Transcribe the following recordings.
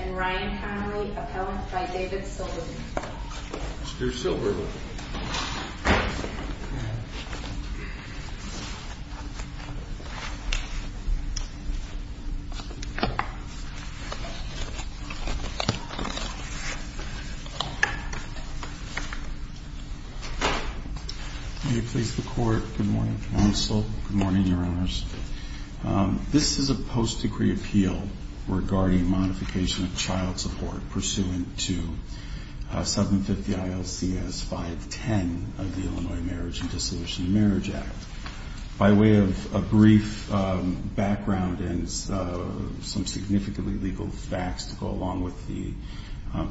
and Ryan Connelly, appellant by David Silberman. Mr. Silberman. May it please the court. Good morning, counsel. Good morning, your honors. This is a post-degree appeal regarding modification of child support pursuant to 750 ILCS 510 of the Illinois Marriage and Dissolution of Marriage Act. By way of a brief background and some significantly legal facts to go along with the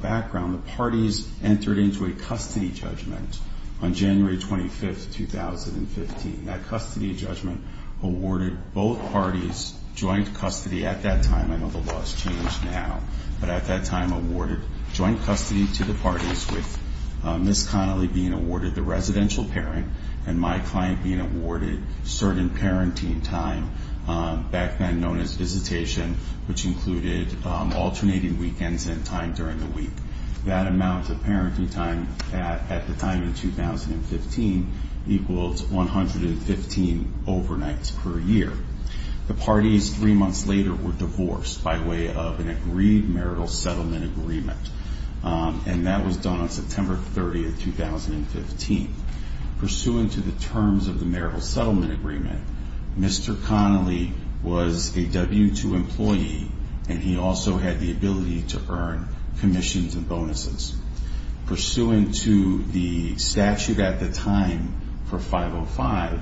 background, the parties entered into a custody judgment on January 25, 2015. That custody judgment awarded both parties joint custody at that time. I know the law has changed now. But at that time awarded joint custody to the parties with Ms. Connelly being awarded the residential parent and my client being awarded certain parenting time back then known as visitation, which included alternating weekends and time during the week. That amount of parenting time at the time in 2015 equals 115 overnights per year. The parties three months later were divorced by way of an agreed marital settlement agreement. And that was done on September 30, 2015. Pursuant to the terms of the marital settlement agreement, Mr. Connelly was a W-2 employee, and he also had the ability to earn commissions and bonuses. Pursuant to the statute at the time for 505,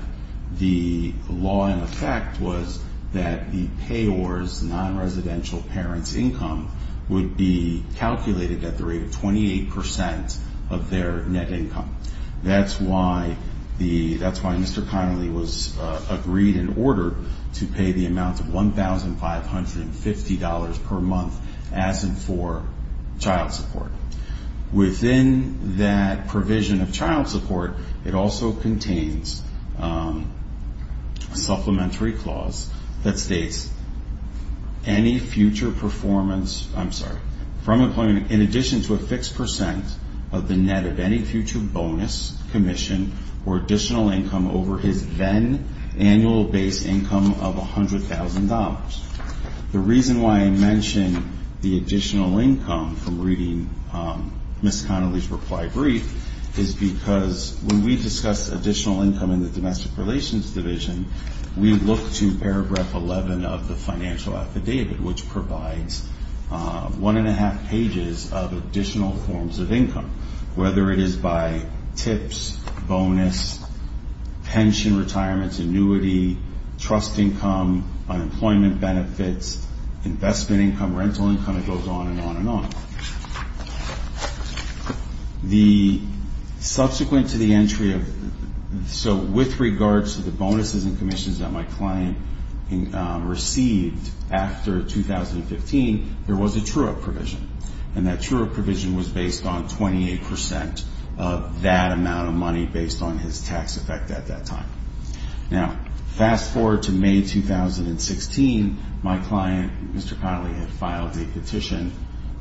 the law in effect was that the payors' non-residential parents' income would be calculated at the rate of 28% of their net income. That's why Mr. Connelly was agreed in order to pay the amount of $1,550 per month as in for child support. Within that provision of child support, it also contains a supplementary clause that states, in addition to a fixed percent of the net of any future bonus, commission, or additional income over his then annual base income of $100,000. The reason why I mention the additional income from reading Ms. Connelly's reply brief is because when we discuss additional income in the Domestic Relations Division, we look to paragraph 11 of the financial affidavit, which provides one and a half pages of additional forms of income, whether it is by tips, bonus, pension, retirement, annuity, trust income, unemployment benefits, investment income, rental income, it goes on and on and on. Subsequent to the entry of... So with regards to the bonuses and commissions that my client received after 2015, there was a true-up provision, and that true-up provision was based on 28% of that amount of money based on his tax effect at that time. Now, fast forward to May 2016, my client, Mr. Connelly, had filed a petition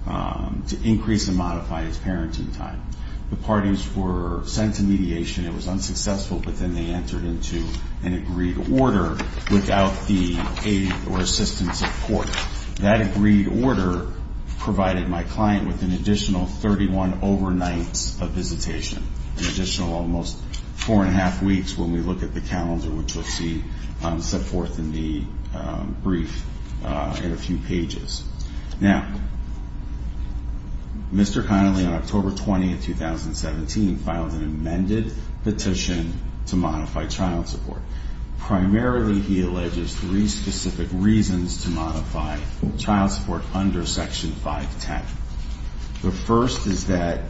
to increase and modify his parenting time. The parties were sent to mediation. It was unsuccessful, but then they entered into an agreed order without the aid or assistance of court. That agreed order provided my client with an additional 31 overnights of visitation, an additional almost four and a half weeks when we look at the calendar, which we'll see set forth in the brief in a few pages. Now, Mr. Connelly, on October 20, 2017, filed an amended petition to modify child support. Primarily, he alleges three specific reasons to modify child support under Section 510. The first is that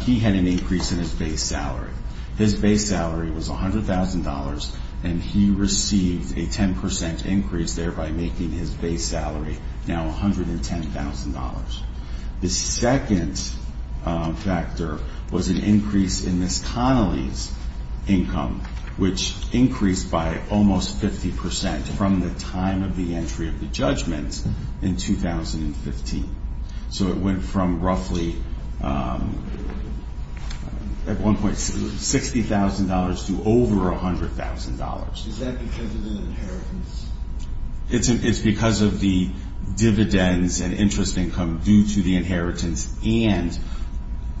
he had an increase in his base salary. His base salary was $100,000, and he received a 10% increase, thereby making his base salary now $110,000. The second factor was an increase in Ms. Connelly's income, which increased by almost 50% from the time of the entry of the judgment in 2015. So it went from roughly at one point $60,000 to over $100,000. Is that because of the inheritance? It's because of the dividends and interest income due to the inheritance and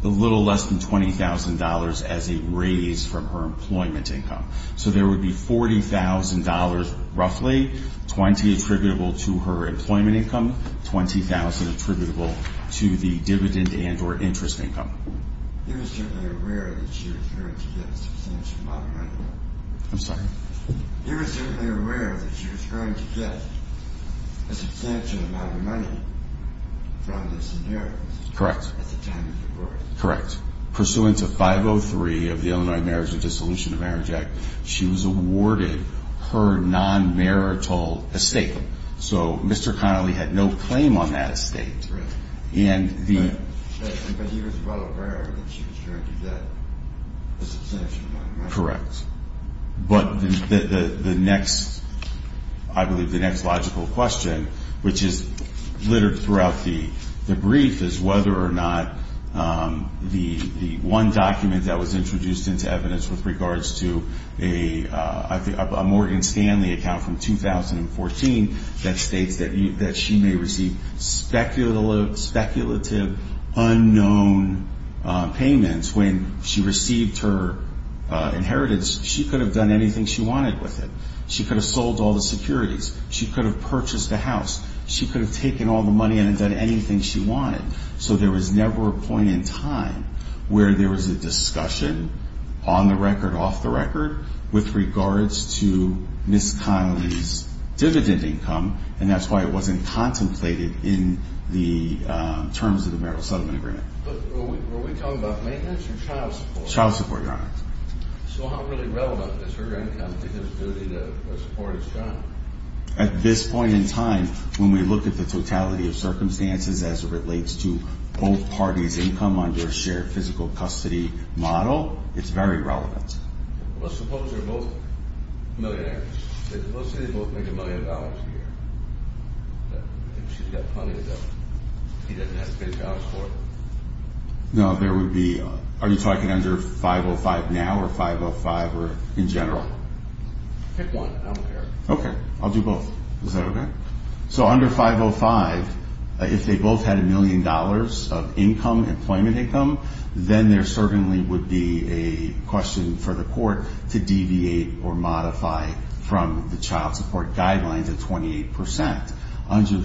a little less than $20,000 as a raise from her employment income. So there would be $40,000 roughly, 20 attributable to her employment income, $20,000 attributable to the dividend and or interest income. You were certainly aware that she was going to get a substantial amount of money. I'm sorry? You were certainly aware that she was going to get a substantial amount of money from this inheritance. Correct. At the time of her birth. Correct. Pursuant to 503 of the Illinois Marriage and Dissolution of Marriage Act, she was awarded her non-marital estate. So Mr. Connelly had no claim on that estate. Right. But he was well aware that she was going to get a substantial amount of money. Correct. But the next, I believe, the next logical question, which is littered throughout the brief, is whether or not the one document that was introduced into evidence with regards to a Morgan Stanley account from 2014 that states that she may receive speculative unknown payments when she received her inheritance. She could have done anything she wanted with it. She could have sold all the securities. She could have purchased a house. She could have taken all the money and done anything she wanted. So there was never a point in time where there was a discussion on the record, off the record, with regards to Ms. Connelly's dividend income, and that's why it wasn't contemplated in the terms of the marital settlement agreement. But were we talking about maintenance or child support? Child support, Your Honor. So how really relevant is her income to his duty to support his child? At this point in time, when we look at the totality of circumstances as it relates to both parties' income under a shared physical custody model, it's very relevant. Let's suppose they're both millionaires. Let's say they both make a million dollars a year. She's got plenty of them. He doesn't have to pay the dollars for it. No, there would be. Are you talking under 505 now or 505 in general? Pick one. Okay. I'll do both. Is that okay? So under 505, if they both had a million dollars of income, employment income, then there certainly would be a question for the court to deviate or modify from the child support guidelines at 28%. Under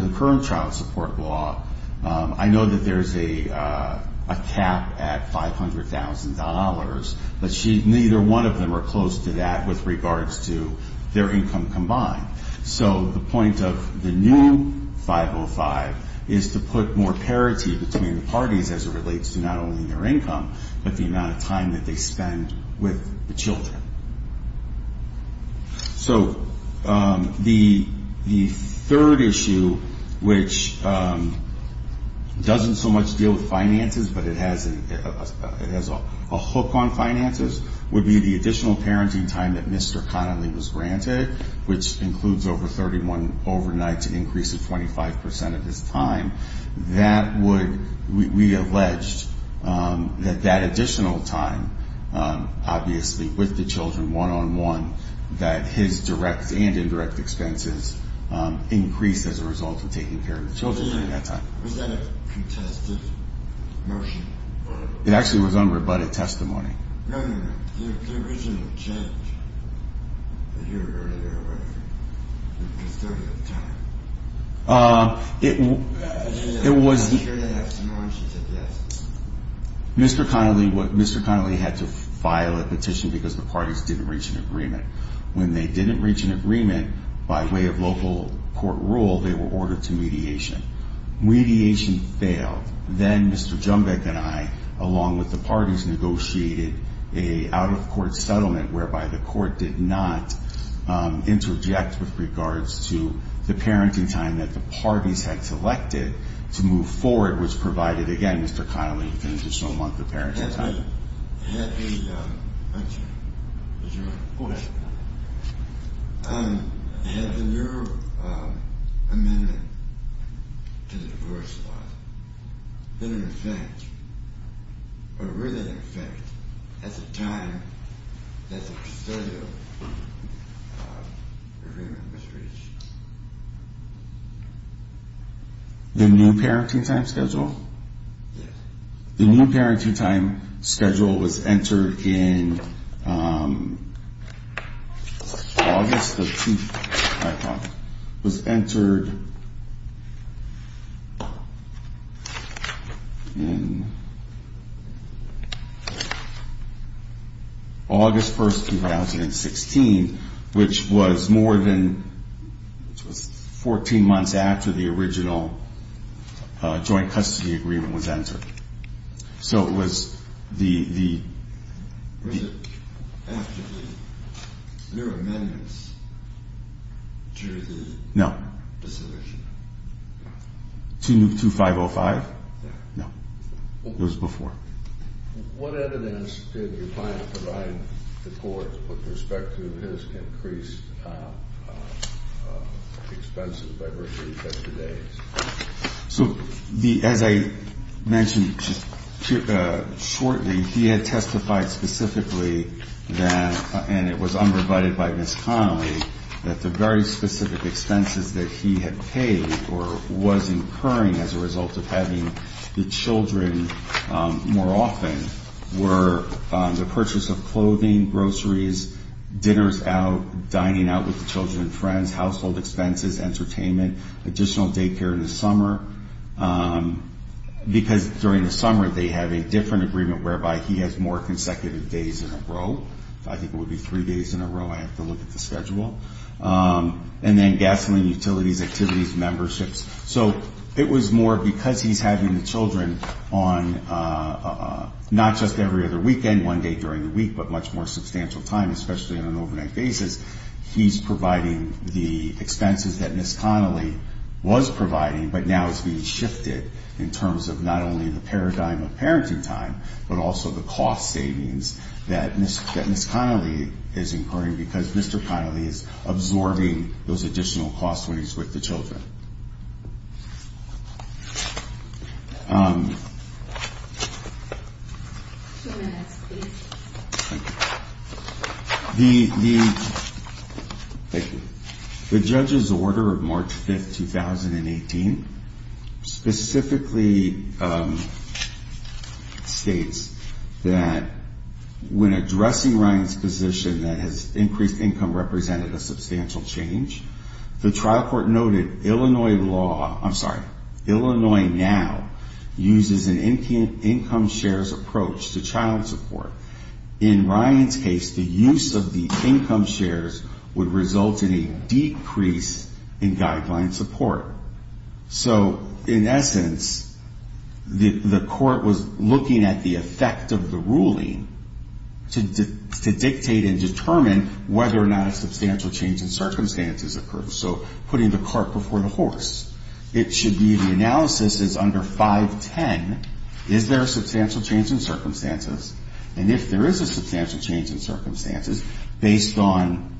the current child support law, I know that there's a cap at $500,000, but neither one of them are close to that with regards to their income combined. So the point of the new 505 is to put more parity between the parties as it relates to not only their income but the amount of time that they spend with the children. So the third issue, which doesn't so much deal with finances but it has a hook on finances, would be the additional parenting time that Mr. Connolly was granted, which includes over 31 overnight to increase it 25% of his time. We alleged that that additional time, obviously with the children one-on-one, that his direct and indirect expenses increased as a result of taking care of the children during that time. Was that a contested motion? It actually was unrebutted testimony. No, no, no. The original change that you were going to do, what was it? It was 30 at the time. It was... I'm sure they have some more. She said yes. Mr. Connolly had to file a petition because the parties didn't reach an agreement. When they didn't reach an agreement by way of local court rule, they were ordered to mediation. Mediation failed. Then Mr. Jumbeck and I, along with the parties, negotiated an out-of-court settlement whereby the court did not interject with regards to the parenting time that the parties had selected to move forward, which provided, again, Mr. Connolly with an additional month of parenting time. Mr. Connolly, had the new amendment to the divorce law been in effect, or were they in effect at the time that the study of agreement was reached? The new parenting time schedule? Yes. The new parenting time schedule was entered in August of 2016, which was more than 14 months after the original joint custody agreement was entered. So it was the... Was it after the new amendments to the resolution? No. To 2505? No. It was before. What evidence did your client provide the court with respect to his increased expenses by virtue of custody days? So, as I mentioned shortly, he had testified specifically that, and it was unprovided by Ms. Connolly, that the very specific expenses that he had paid or was incurring as a result of having the children more often were the purchase of clothing, groceries, dinners out, dining out with the children and friends, household expenses, entertainment, additional daycare in the summer, because during the summer they have a different agreement whereby he has more consecutive days in a row. I think it would be three days in a row. I have to look at the schedule. And then gasoline, utilities, activities, memberships. So it was more because he's having the children on not just every other weekend, one day during the week, but much more substantial time, especially on an overnight basis. He's providing the expenses that Ms. Connolly was providing, but now is being shifted in terms of not only the paradigm of parenting time, but also the cost savings that Ms. Connolly is incurring, because Mr. Connolly is absorbing those additional costs when he's with the children. The judge's order of March 5th, 2018, specifically states that when addressing Ryan's position that his increased income represented a substantial change, the trial court noted Illinois now uses an income shares approach to child support. In Ryan's case, the use of the income shares would result in a decrease in guideline support. So in essence, the court was looking at the effect of the ruling to dictate and determine whether or not a substantial change in circumstances occurs. So putting the cart before the horse. It should be the analysis is under 510, is there a substantial change in circumstances? And if there is a substantial change in circumstances, based on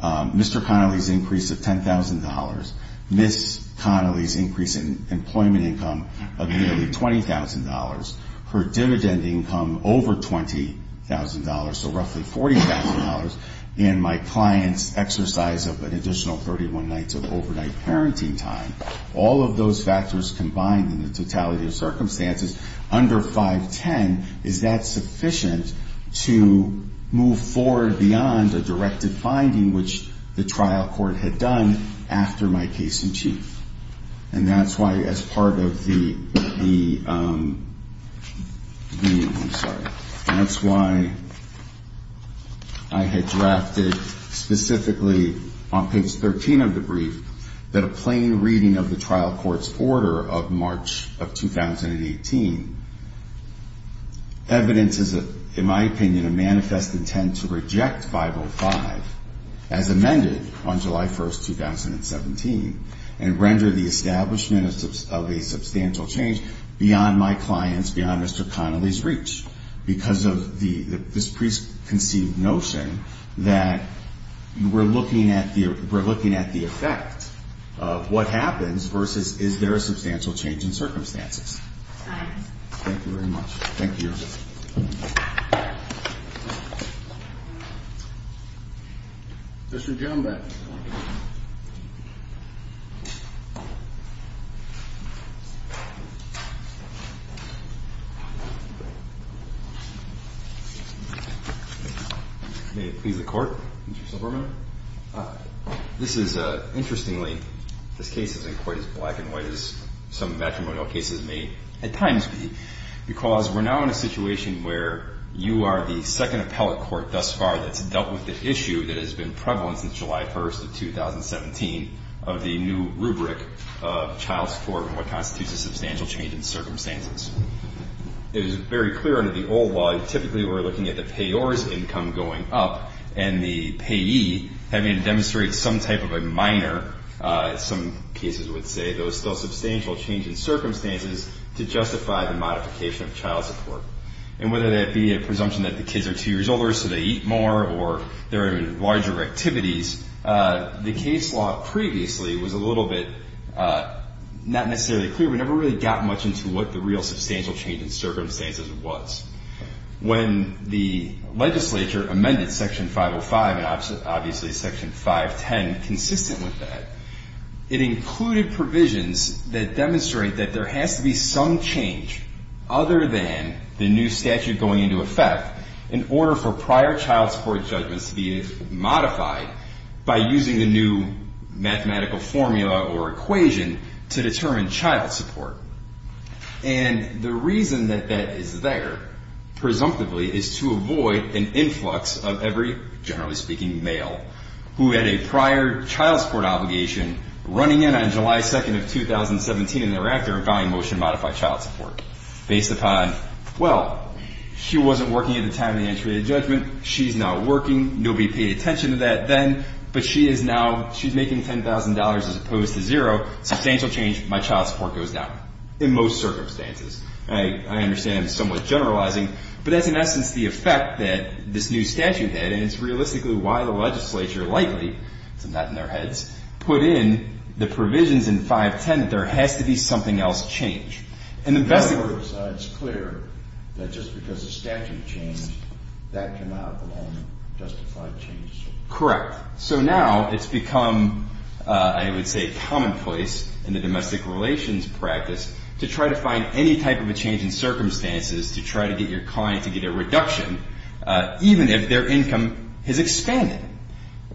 Mr. Connolly's increase of $10,000, Ms. Connolly's increase in employment income of nearly $20,000, her dividend income over $20,000, so roughly $40,000, and my client's exercise of an additional 31 nights of overnight parenting time, all of those factors combined in the totality of circumstances under 510, is that sufficient to move forward beyond a directive finding, which the trial court had done after my case in chief? And that's why as part of the, I'm sorry, that's why I had drafted specifically on page 13 of the brief that a plain reading of the trial court's order of March of 2018, evidence is, in my opinion, a manifest intent to reject 505 as amended on July 1st, 2017, and render the establishment of a substantial change beyond my client's, beyond Mr. Connolly's reach, because of this preconceived notion that we're looking at the effect of what happens versus is there a substantial change in circumstances. Thank you very much. Thank you. Thank you. Mr. Johnbeck. May it please the court, Mr. Subramanian. This is, interestingly, this case isn't quite as black and white as some matrimonial cases may at times be, because we're now in a situation where you are the second appellate court thus far that's dealt with the issue that has been prevalent since July 1st of 2017 of the new rubric of child support and what constitutes a substantial change in circumstances. It is very clear under the old law, typically we're looking at the payor's income going up and the payee having to demonstrate some type of a minor, as some cases would say, those still substantial change in circumstances to justify the modification of child support. And whether that be a presumption that the kids are two years older so they eat more or they're in larger activities, the case law previously was a little bit not necessarily clear. We never really got much into what the real substantial change in circumstances was. When the legislature amended Section 505 and obviously Section 510 consistent with that, it included provisions that demonstrate that there has to be some change other than the new statute going into effect in order for prior child support judgments to be modified by using the new mathematical formula or equation to determine child support. And the reason that that is there, presumptively, is to avoid an influx of every, generally speaking, male who had a prior child support obligation running in on July 2nd of 2017 and thereafter vowing motion to modify child support based upon, well, she wasn't working at the time of the entry of the judgment, she's not working, nobody paid attention to that then, but she is now, she's making $10,000 as opposed to zero, substantial change, my child support goes down in most circumstances. I understand it's somewhat generalizing, but that's in essence the effect that this new statute had and it's realistically why the legislature likely, it's not in their heads, put in the provisions in 510 that there has to be something else change. In other words, it's clear that just because the statute changed, that cannot alone justify change. Correct. So now it's become, I would say, commonplace in the domestic relations practice to try to find any type of a change in circumstances to try to get your client to get a reduction, even if their income has expanded.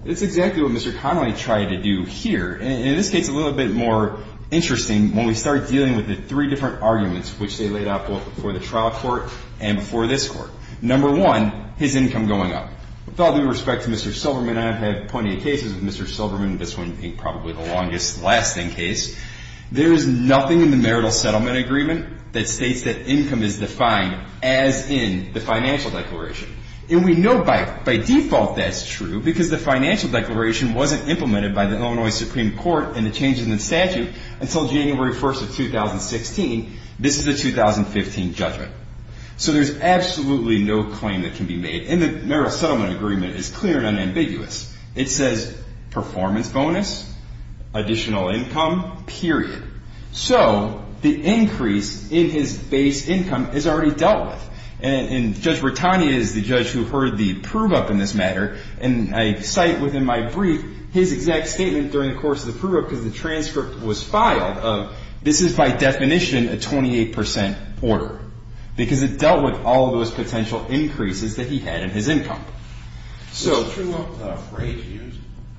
That's exactly what Mr. Connolly tried to do here, and in this case a little bit more interesting when we start dealing with the three different arguments which they laid out both before the trial court and before this court. Number one, his income going up. With all due respect to Mr. Silverman, I have had plenty of cases with Mr. Silverman, this one being probably the longest lasting case. There is nothing in the marital settlement agreement that states that income is defined as in the financial declaration. And we know by default that's true because the financial declaration wasn't implemented by the Illinois Supreme Court in the changes in the statute until January 1st of 2016. This is a 2015 judgment. So there's absolutely no claim that can be made. And the marital settlement agreement is clear and unambiguous. It says performance bonus, additional income, period. So the increase in his base income is already dealt with. And Judge Bertani is the judge who heard the prove-up in this matter, and I cite within my brief his exact statement during the course of the prove-up because the transcript was filed of this is by definition a 28% order because it dealt with all of those potential increases that he had in his income. Is prove-up a phrase used?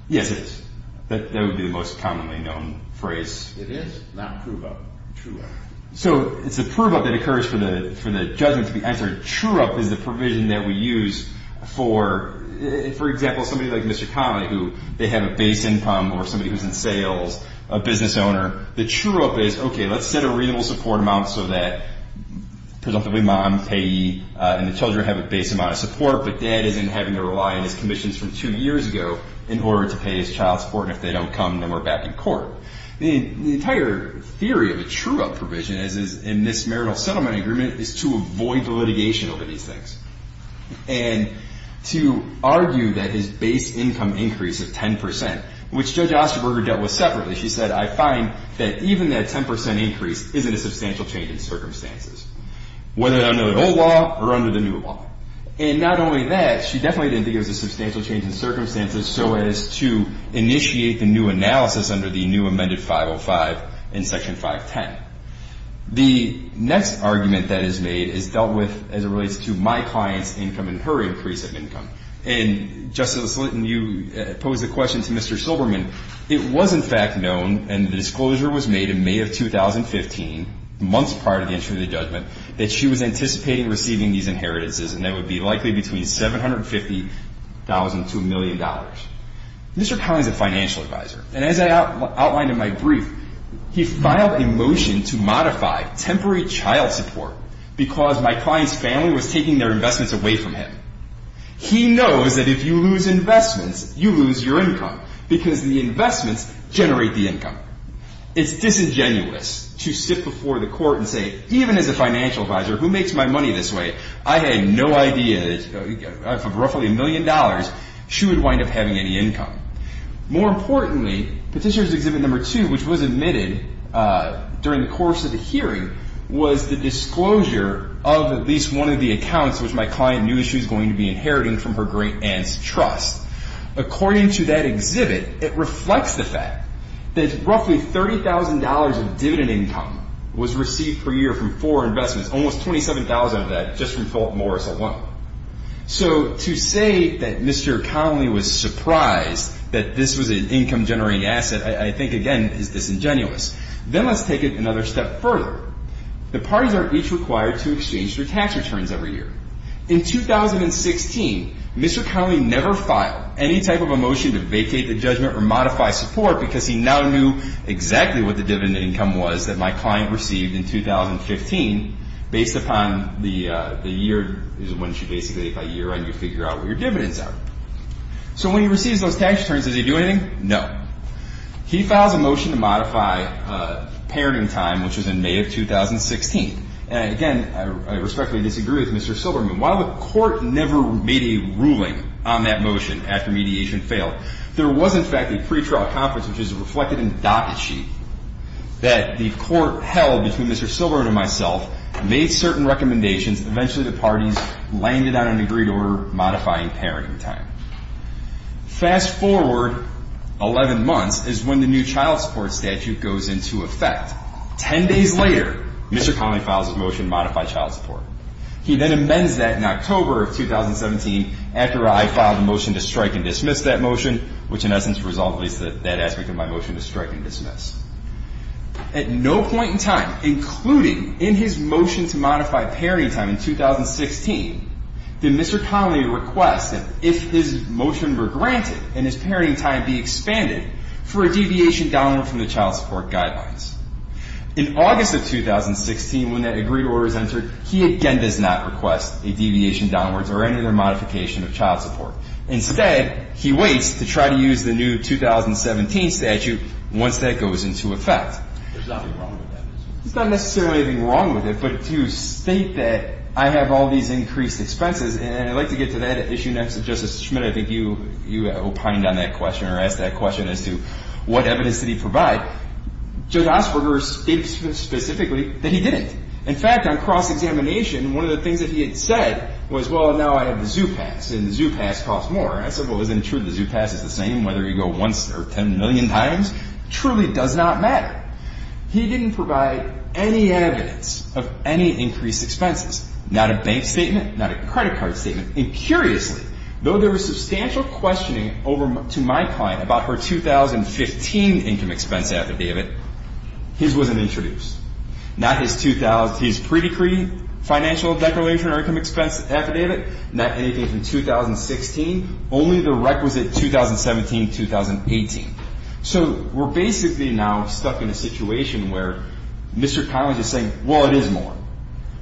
Yes, it is. That would be the most commonly known phrase. Yes, it is. Now prove-up. True-up. So it's a prove-up that occurs for the judgment to be answered. True-up is the provision that we use for, for example, somebody like Mr. Connelly who they have a base income or somebody who's in sales, a business owner. The true-up is, okay, let's set a reasonable support amount so that presumably mom, payee, and the children have a base amount of support, but dad isn't having to rely on his commissions from two years ago in order to pay his child support, and if they don't come, then we're back in court. The entire theory of a true-up provision, as is in this marital settlement agreement, is to avoid the litigation over these things and to argue that his base income increase of 10%, which Judge Osterberger dealt with separately. She said, I find that even that 10% increase isn't a substantial change in circumstances, whether under the old law or under the new law. And not only that, she definitely didn't think it was a substantial change in circumstances so as to initiate the new analysis under the new amended 505 in Section 510. The next argument that is made is dealt with as it relates to my client's income and her increase of income. And, Justice Slitton, you posed the question to Mr. Silberman. It was, in fact, known, and the disclosure was made in May of 2015, months prior to the entry of the judgment, that she was anticipating receiving these inheritances, and they would be likely between $750,000 to $1 million. Mr. Connelly is a financial advisor, and as I outlined in my brief, he filed a motion to modify temporary child support because my client's family was taking their investments away from him. He knows that if you lose investments, you lose your income because the investments generate the income. It's disingenuous to sit before the court and say, even as a financial advisor, who makes my money this way? I had no idea that for roughly $1 million, she would wind up having any income. More importantly, Petitioner's Exhibit No. 2, which was admitted during the course of the hearing, was the disclosure of at least one of the accounts which my client knew she was going to be inheriting from her great aunt's trust. According to that exhibit, it reflects the fact that roughly $30,000 of dividend income was received per year from four investments, almost $27,000 of that just from Fort Morris alone. So to say that Mr. Connelly was surprised that this was an income-generating asset, I think, again, is disingenuous. Then let's take it another step further. The parties are each required to exchange their tax returns every year. In 2016, Mr. Connelly never filed any type of a motion to vacate the judgment or modify support because he now knew exactly what the dividend income was that my client received in 2015 based upon the year, which is when you basically, by year end, you figure out what your dividends are. So when he receives those tax returns, does he do anything? No. He files a motion to modify parenting time, which was in May of 2016. Again, I respectfully disagree with Mr. Silberman. While the court never made a ruling on that motion after mediation failed, there was, in fact, a pretrial conference, which is reflected in the docket sheet, that the court held between Mr. Silberman and myself, made certain recommendations, and eventually the parties landed on an agreed order modifying parenting time. Fast forward 11 months is when the new child support statute goes into effect. Ten days later, Mr. Connelly files a motion to modify child support. He then amends that in October of 2017 after I filed a motion to strike and dismiss that motion, which in essence resolves that aspect of my motion to strike and dismiss. At no point in time, including in his motion to modify parenting time in 2016, did Mr. Connelly request that if his motion were granted and his parenting time be expanded for a deviation downward from the child support guidelines. In August of 2016, when that agreed order is entered, he again does not request a deviation downwards or any other modification of child support. Instead, he waits to try to use the new 2017 statute once that goes into effect. There's nothing wrong with that. There's not necessarily anything wrong with it, but to state that I have all these increased expenses, and I'd like to get to that issue next. Justice Schmitt, I think you opined on that question or asked that question as to what evidence did he provide. Judge Osberger states specifically that he didn't. In fact, on cross-examination, one of the things that he had said was, well, now I have the ZOO Pass, and the ZOO Pass costs more. I said, well, isn't it true the ZOO Pass is the same whether you go once or 10 million times? It truly does not matter. He didn't provide any evidence of any increased expenses, not a bank statement, not a credit card statement. And curiously, though there was substantial questioning to my client about her 2015 income expense affidavit, his wasn't introduced. Not his predecree financial declaration or income expense affidavit, not anything from 2016, only the requisite 2017-2018. So we're basically now stuck in a situation where Mr. Collins is saying, well, it is more.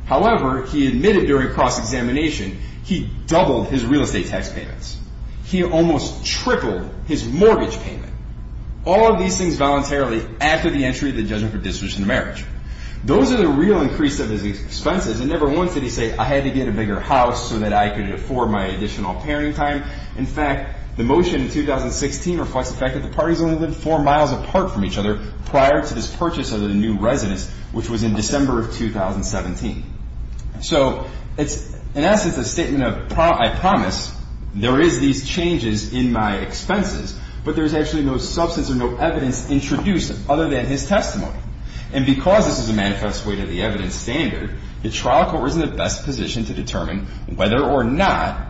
However, he admitted during cross-examination he doubled his real estate tax payments. He almost tripled his mortgage payment. All of these things voluntarily after the entry of the judgment for dissolution of marriage. Those are the real increase of his expenses. And never once did he say, I had to get a bigger house so that I could afford my additional parenting time. In fact, the motion in 2016 reflects the fact that the parties only lived four miles apart from each other which was in December of 2017. So it's in essence a statement of, I promise there is these changes in my expenses, but there's actually no substance or no evidence introduced other than his testimony. And because this is a manifest way to the evidence standard, the trial court was in the best position to determine whether or not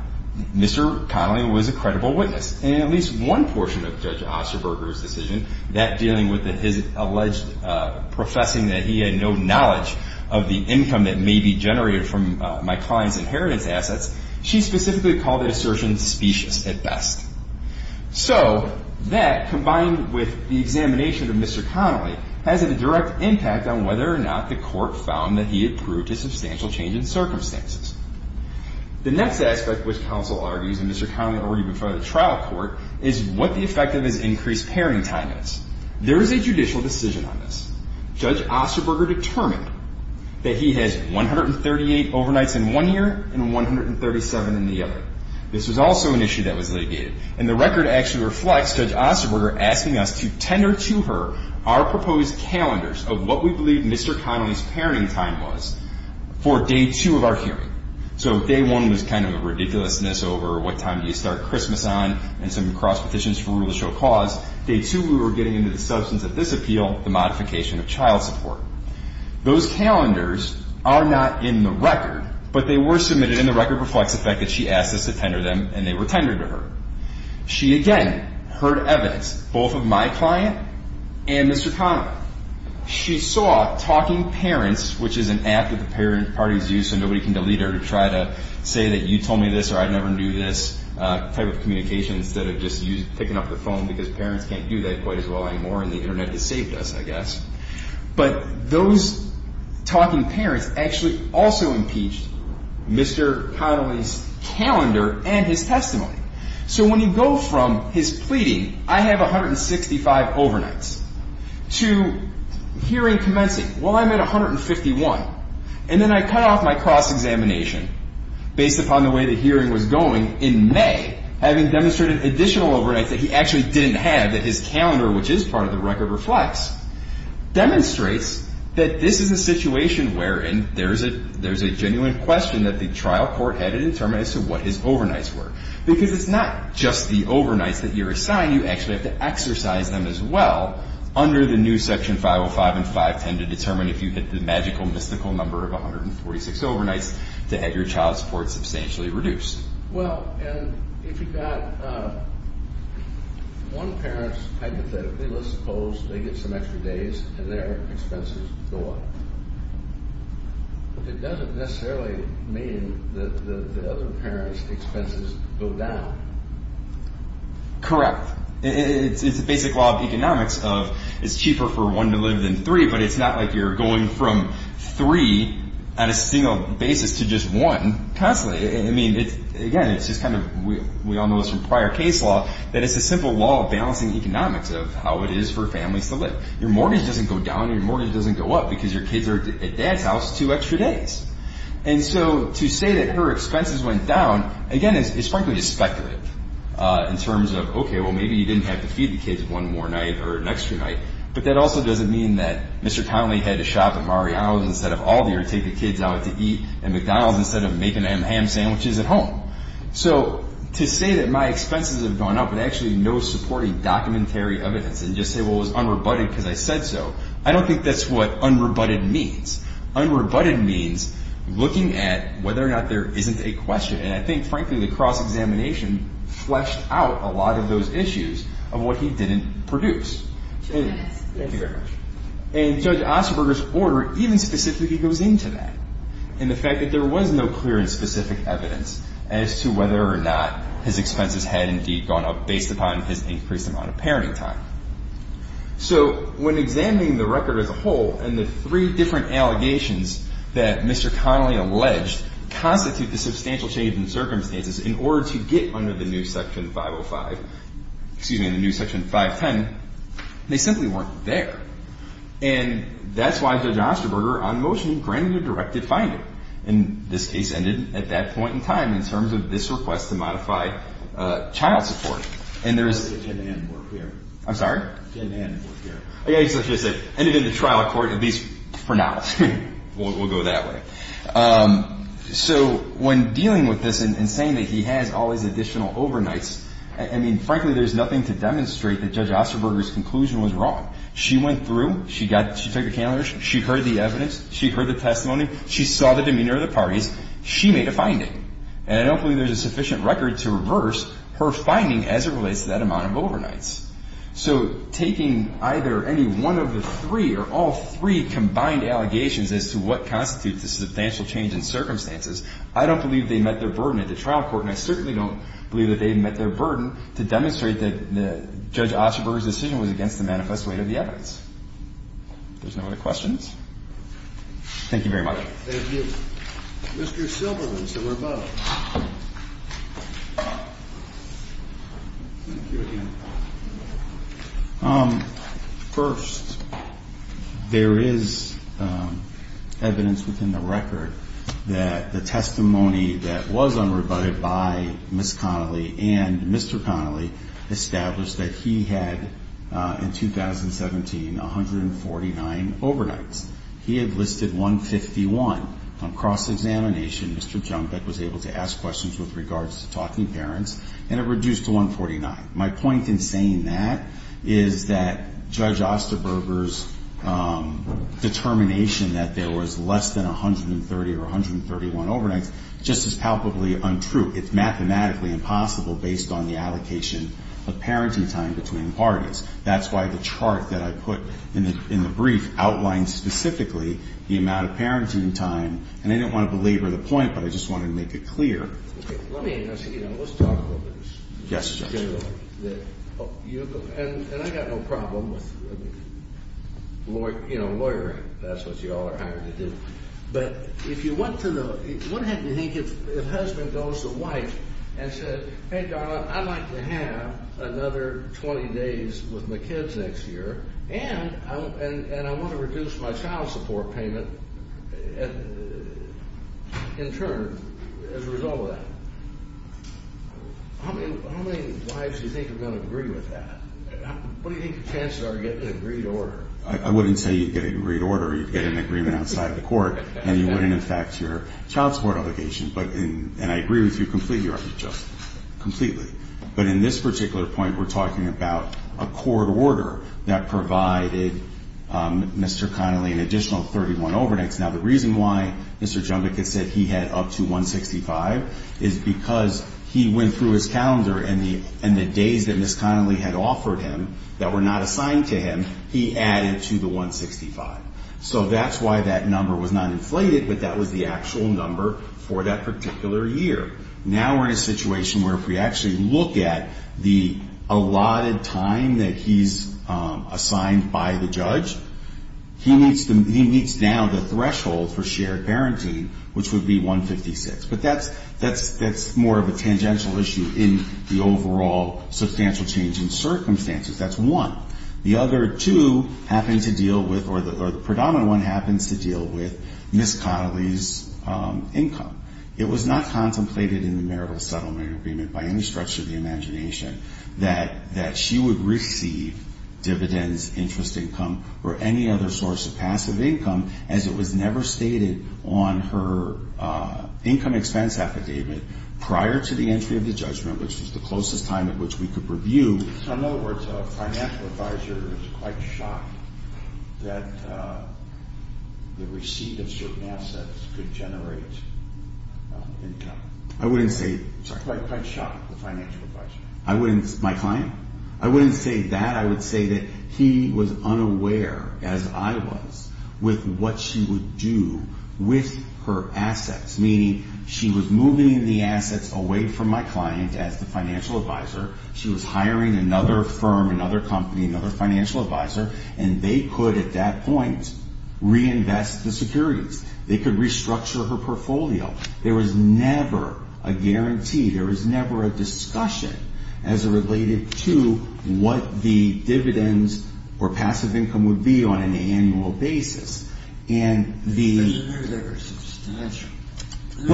Mr. Connelly was a credible witness. And at least one portion of Judge Osterberger's decision, that dealing with his alleged professing that he had no knowledge of the income that may be generated from my client's inheritance assets, she specifically called the assertion specious at best. So that, combined with the examination of Mr. Connelly, has a direct impact on whether or not the court found that he approved a substantial change in circumstances. The next aspect which counsel argues, and Mr. Connelly argued before the trial court, is what the effect of his increased parenting time is. There is a judicial decision on this. Judge Osterberger determined that he has 138 overnights in one year and 137 in the other. This was also an issue that was litigated. And the record actually reflects Judge Osterberger asking us to tender to her our proposed calendars of what we believe Mr. Connelly's parenting time was for day two of our hearing. So day one was kind of a ridiculousness over what time do you start Christmas on and some cross petitions for rule of show cause. Day two we were getting into the substance of this appeal, the modification of child support. Those calendars are not in the record, but they were submitted, and the record reflects the fact that she asked us to tender them, and they were tendered to her. She again heard evidence, both of my client and Mr. Connelly. She saw talking parents, which is an act that the parent parties use so nobody can delete her to try to say that you told me this or I'd never do this type of communication instead of just picking up the phone because parents can't do that quite as well anymore and the Internet has saved us, I guess. But those talking parents actually also impeached Mr. Connelly's calendar and his testimony. So when you go from his pleading, I have 165 overnights, to hearing commencing, well, I'm at 151. And then I cut off my cross-examination based upon the way the hearing was going in May, having demonstrated additional overnights that he actually didn't have, that his calendar, which is part of the record, reflects, demonstrates that this is a situation wherein there's a genuine question that the trial court had to determine as to what his overnights were. Because it's not just the overnights that you're assigned. You actually have to exercise them as well under the new Section 505 and 510 to determine if you hit the magical, mystical number of 146 overnights to have your child support substantially reduced. Well, and if you've got one parent's, hypothetically, let's suppose they get some extra days and their expenses go up. But that doesn't necessarily mean that the other parent's expenses go down. Correct. It's a basic law of economics of it's cheaper for one to live than three, but it's not like you're going from three on a single basis to just one constantly. I mean, again, it's just kind of, we all know this from prior case law, that it's a simple law of balancing economics of how it is for families to live. Your mortgage doesn't go down, your mortgage doesn't go up, because your kids are at dad's house two extra days. And so to say that her expenses went down, again, is frankly just speculative in terms of, okay, well, maybe you didn't have to feed the kids one more night or an extra night, but that also doesn't mean that Mr. Conley had to shop at Mario's instead of Aldi or take the kids out to eat at McDonald's instead of making ham sandwiches at home. So to say that my expenses have gone up with actually no supporting documentary evidence and just say, well, it was unrebutted because I said so, I don't think that's what unrebutted means. Unrebutted means looking at whether or not there isn't a question. And I think, frankly, the cross-examination fleshed out a lot of those issues of what he didn't produce. And Judge Osterberger's order even specifically goes into that, in the fact that there was no clear and specific evidence as to whether or not his expenses had indeed gone up based upon his increased amount of parenting time. So when examining the record as a whole and the three different allegations that Mr. Conley alleged constitute the substantial change in circumstances in order to get under the new Section 505, excuse me, the new Section 510, they simply weren't there. And that's why Judge Osterberger, on motion, granted a directive finding. And this case ended at that point in time in terms of this request to modify child support. And there is – I'm sorry? Ended in the trial court, at least for now. We'll go that way. So when dealing with this and saying that he has all these additional overnights, I mean, frankly, there's nothing to demonstrate that Judge Osterberger's conclusion was wrong. She went through. She took a calendar. She heard the evidence. She heard the testimony. She saw the demeanor of the parties. She made a finding. And I don't believe there's a sufficient record to reverse her finding as it relates to that amount of overnights. So taking either any one of the three or all three combined allegations as to what constitutes the substantial change in circumstances, I don't believe they met their burden at the trial court, and I certainly don't believe that they met their burden to demonstrate that Judge Osterberger's decision was against the manifest weight of the evidence. If there's no other questions. Thank you very much. Thank you. Mr. Silverman, to rebut. Thank you again. First, there is evidence within the record that the testimony that was unrebutted by Ms. Connolly and Mr. Connolly established that he had, in 2017, 149 overnights. He had listed 151. On cross-examination, Mr. Junker was able to ask questions with regards to talking parents, and it reduced to 149. My point in saying that is that Judge Osterberger's determination that there was less than 130 or 131 overnights is just as palpably untrue. It's mathematically impossible based on the allocation of parenting time between parties. That's why the chart that I put in the brief outlined specifically the amount of parenting time, and I didn't want to belabor the point, but I just wanted to make it clear. Okay. Let me ask you, you know, let's talk about this. Yes, Judge. And I got no problem with, you know, lawyering. That's what you all are hired to do. But if you want to know, what happens, I think, if a husband goes to a wife and says, hey, darling, I'd like to have another 20 days with my kids next year, and I want to reduce my child support payment in turn as a result of that. How many wives do you think are going to agree with that? What do you think the chances are of getting an agreed order? I wouldn't say you'd get an agreed order. You'd get an agreement outside the court, and you wouldn't, in fact, your child support obligation. And I agree with you completely, right? Just completely. But in this particular point, we're talking about a court order that provided Mr. Connolly an additional 31 overnights. Now, the reason why Mr. Jumbach had said he had up to 165 is because he went through his calendar, and the days that Ms. Connolly had offered him that were not assigned to him, he added to the 165. So that's why that number was not inflated, but that was the actual number for that particular year. Now we're in a situation where if we actually look at the allotted time that he's assigned by the judge, he meets now the threshold for shared parenting, which would be 156. But that's more of a tangential issue in the overall substantial change in circumstances. That's one. The other two happen to deal with, or the predominant one happens to deal with Ms. Connolly's income. It was not contemplated in the marital settlement agreement by any stretch of the imagination that she would receive dividends, interest income, or any other source of passive income, as it was never stated on her income expense affidavit prior to the entry of the judgment, which was the closest time at which we could review. So in other words, a financial advisor is quite shocked that the receipt of certain assets could generate income. I wouldn't say. Quite shocked, the financial advisor. My client? I wouldn't say that. I would say that he was unaware, as I was, with what she would do with her assets, meaning she was moving the assets away from my client as the financial advisor. She was hiring another firm, another company, another financial advisor, and they could at that point reinvest the securities. They could restructure her portfolio. There was never a guarantee. There was never a discussion as it related to what the dividends or passive income would be on an annual basis. And the issue was substantial. The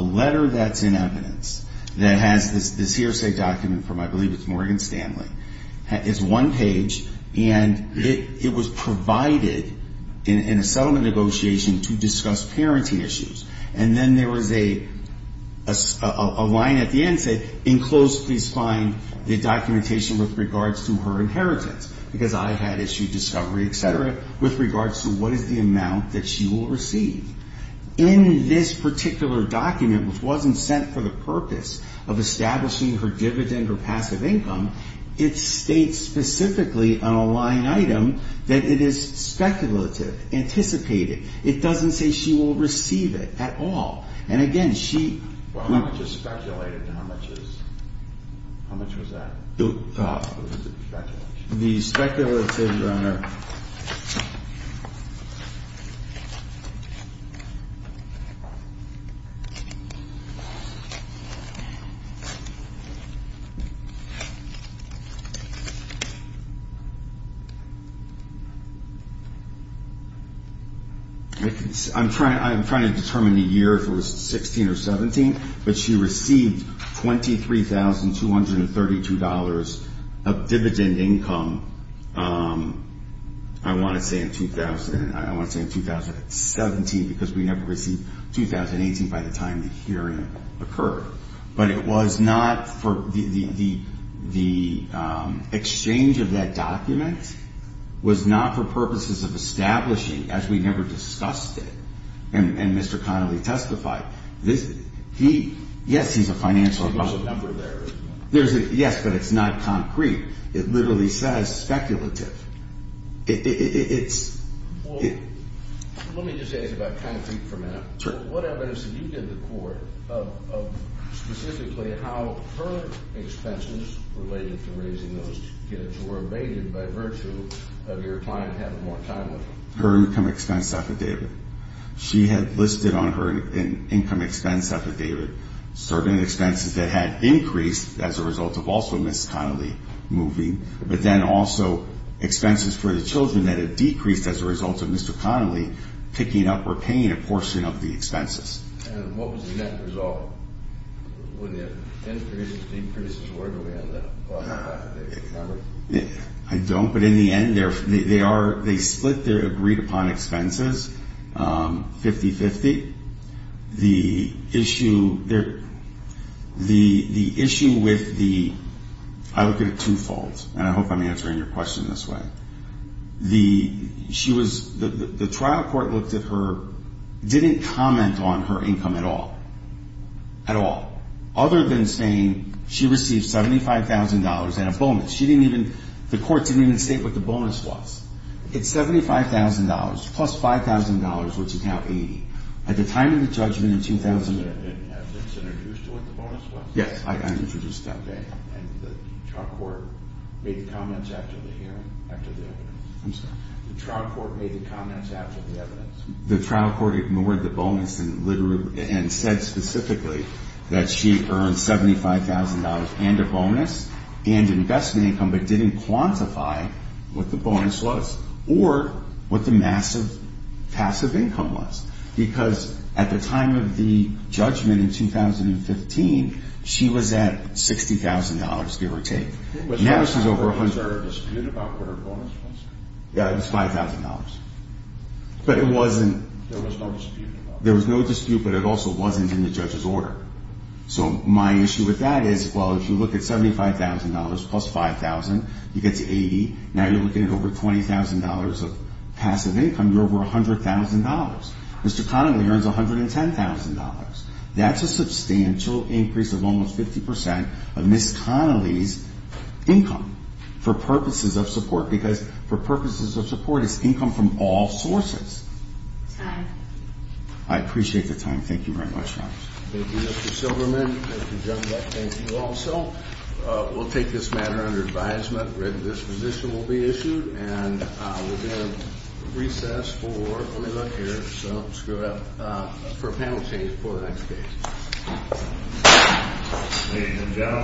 letter that's in evidence that has this hearsay document from, I believe it's Morgan Stanley, is one page, and it was provided in a settlement negotiation to discuss parenting issues. And then there was a line at the end that said, in close please find the documentation with regards to her inheritance, because I had issued discovery, et cetera, with regards to what is the amount that she will receive. In this particular document, which wasn't sent for the purpose of establishing her dividend or passive income, it states specifically on a line item that it is speculative, anticipated. It doesn't say she will receive it at all. And again, she just speculated how much is how much was that? The speculative. I'm trying to determine the year if it was 16 or 17, but she received $23,232 of dividend income, I want to say in 2017, because we never received 2018 by the time the hearing occurred. But it was not for the exchange of that document was not for purposes of establishing, as we never discussed it. And Mr. Connolly testified. Yes, he's a financial advisor. There's a number there. Yes, but it's not concrete. It literally says speculative. Let me just say this about concrete for a minute. Sure. What evidence did you give the court of specifically how her expenses related to raising those kids were abated by virtue of your client having more time with her? Her income expense affidavit. She had listed on her an income expense affidavit, certain expenses that had increased as a result of also Ms. Connolly moving, but then also expenses for the children that had decreased as a result of Mr. Connolly picking up or paying a portion of the expenses. And what was the net result? Would there have been increases or decreases? Where do we end up on that affidavit? I don't, but in the end, they split their agreed upon expenses. 50-50. The issue with the, I look at it twofold, and I hope I'm answering your question this way. The trial court looked at her, didn't comment on her income at all. At all. Other than saying she received $75,000 and a bonus. She didn't even, the court didn't even state what the bonus was. It's $75,000 plus $5,000, which is now $80,000. At the time of the judgment in 2008. Have you been introduced to what the bonus was? Yes, I introduced that. Okay. And the trial court made the comments after the hearing, after the evidence. I'm sorry. The trial court made the comments after the evidence. The trial court ignored the bonus and said specifically that she earned $75,000 and a bonus and investment income, but didn't quantify what the bonus was or what the massive passive income was. Because at the time of the judgment in 2015, she was at $60,000, give or take. Was there a dispute about what her bonus was? Yeah, it was $5,000. But it wasn't. There was no dispute. There was no dispute, but it also wasn't in the judge's order. So my issue with that is, well, if you look at $75,000 plus $5,000, you get to $80,000. Now you're looking at over $20,000 of passive income. You're over $100,000. Mr. Connolly earns $110,000. That's a substantial increase of almost 50% of Ms. Connolly's income for purposes of support. Because for purposes of support, it's income from all sources. Time. I appreciate the time. Thank you very much. Thank you, Mr. Silverman. Thank you, Judge Beck. Thank you also. We'll take this matter under advisement. This position will be issued. And we're going to recess for a minute here. So screw it up. For a panel change before the next case.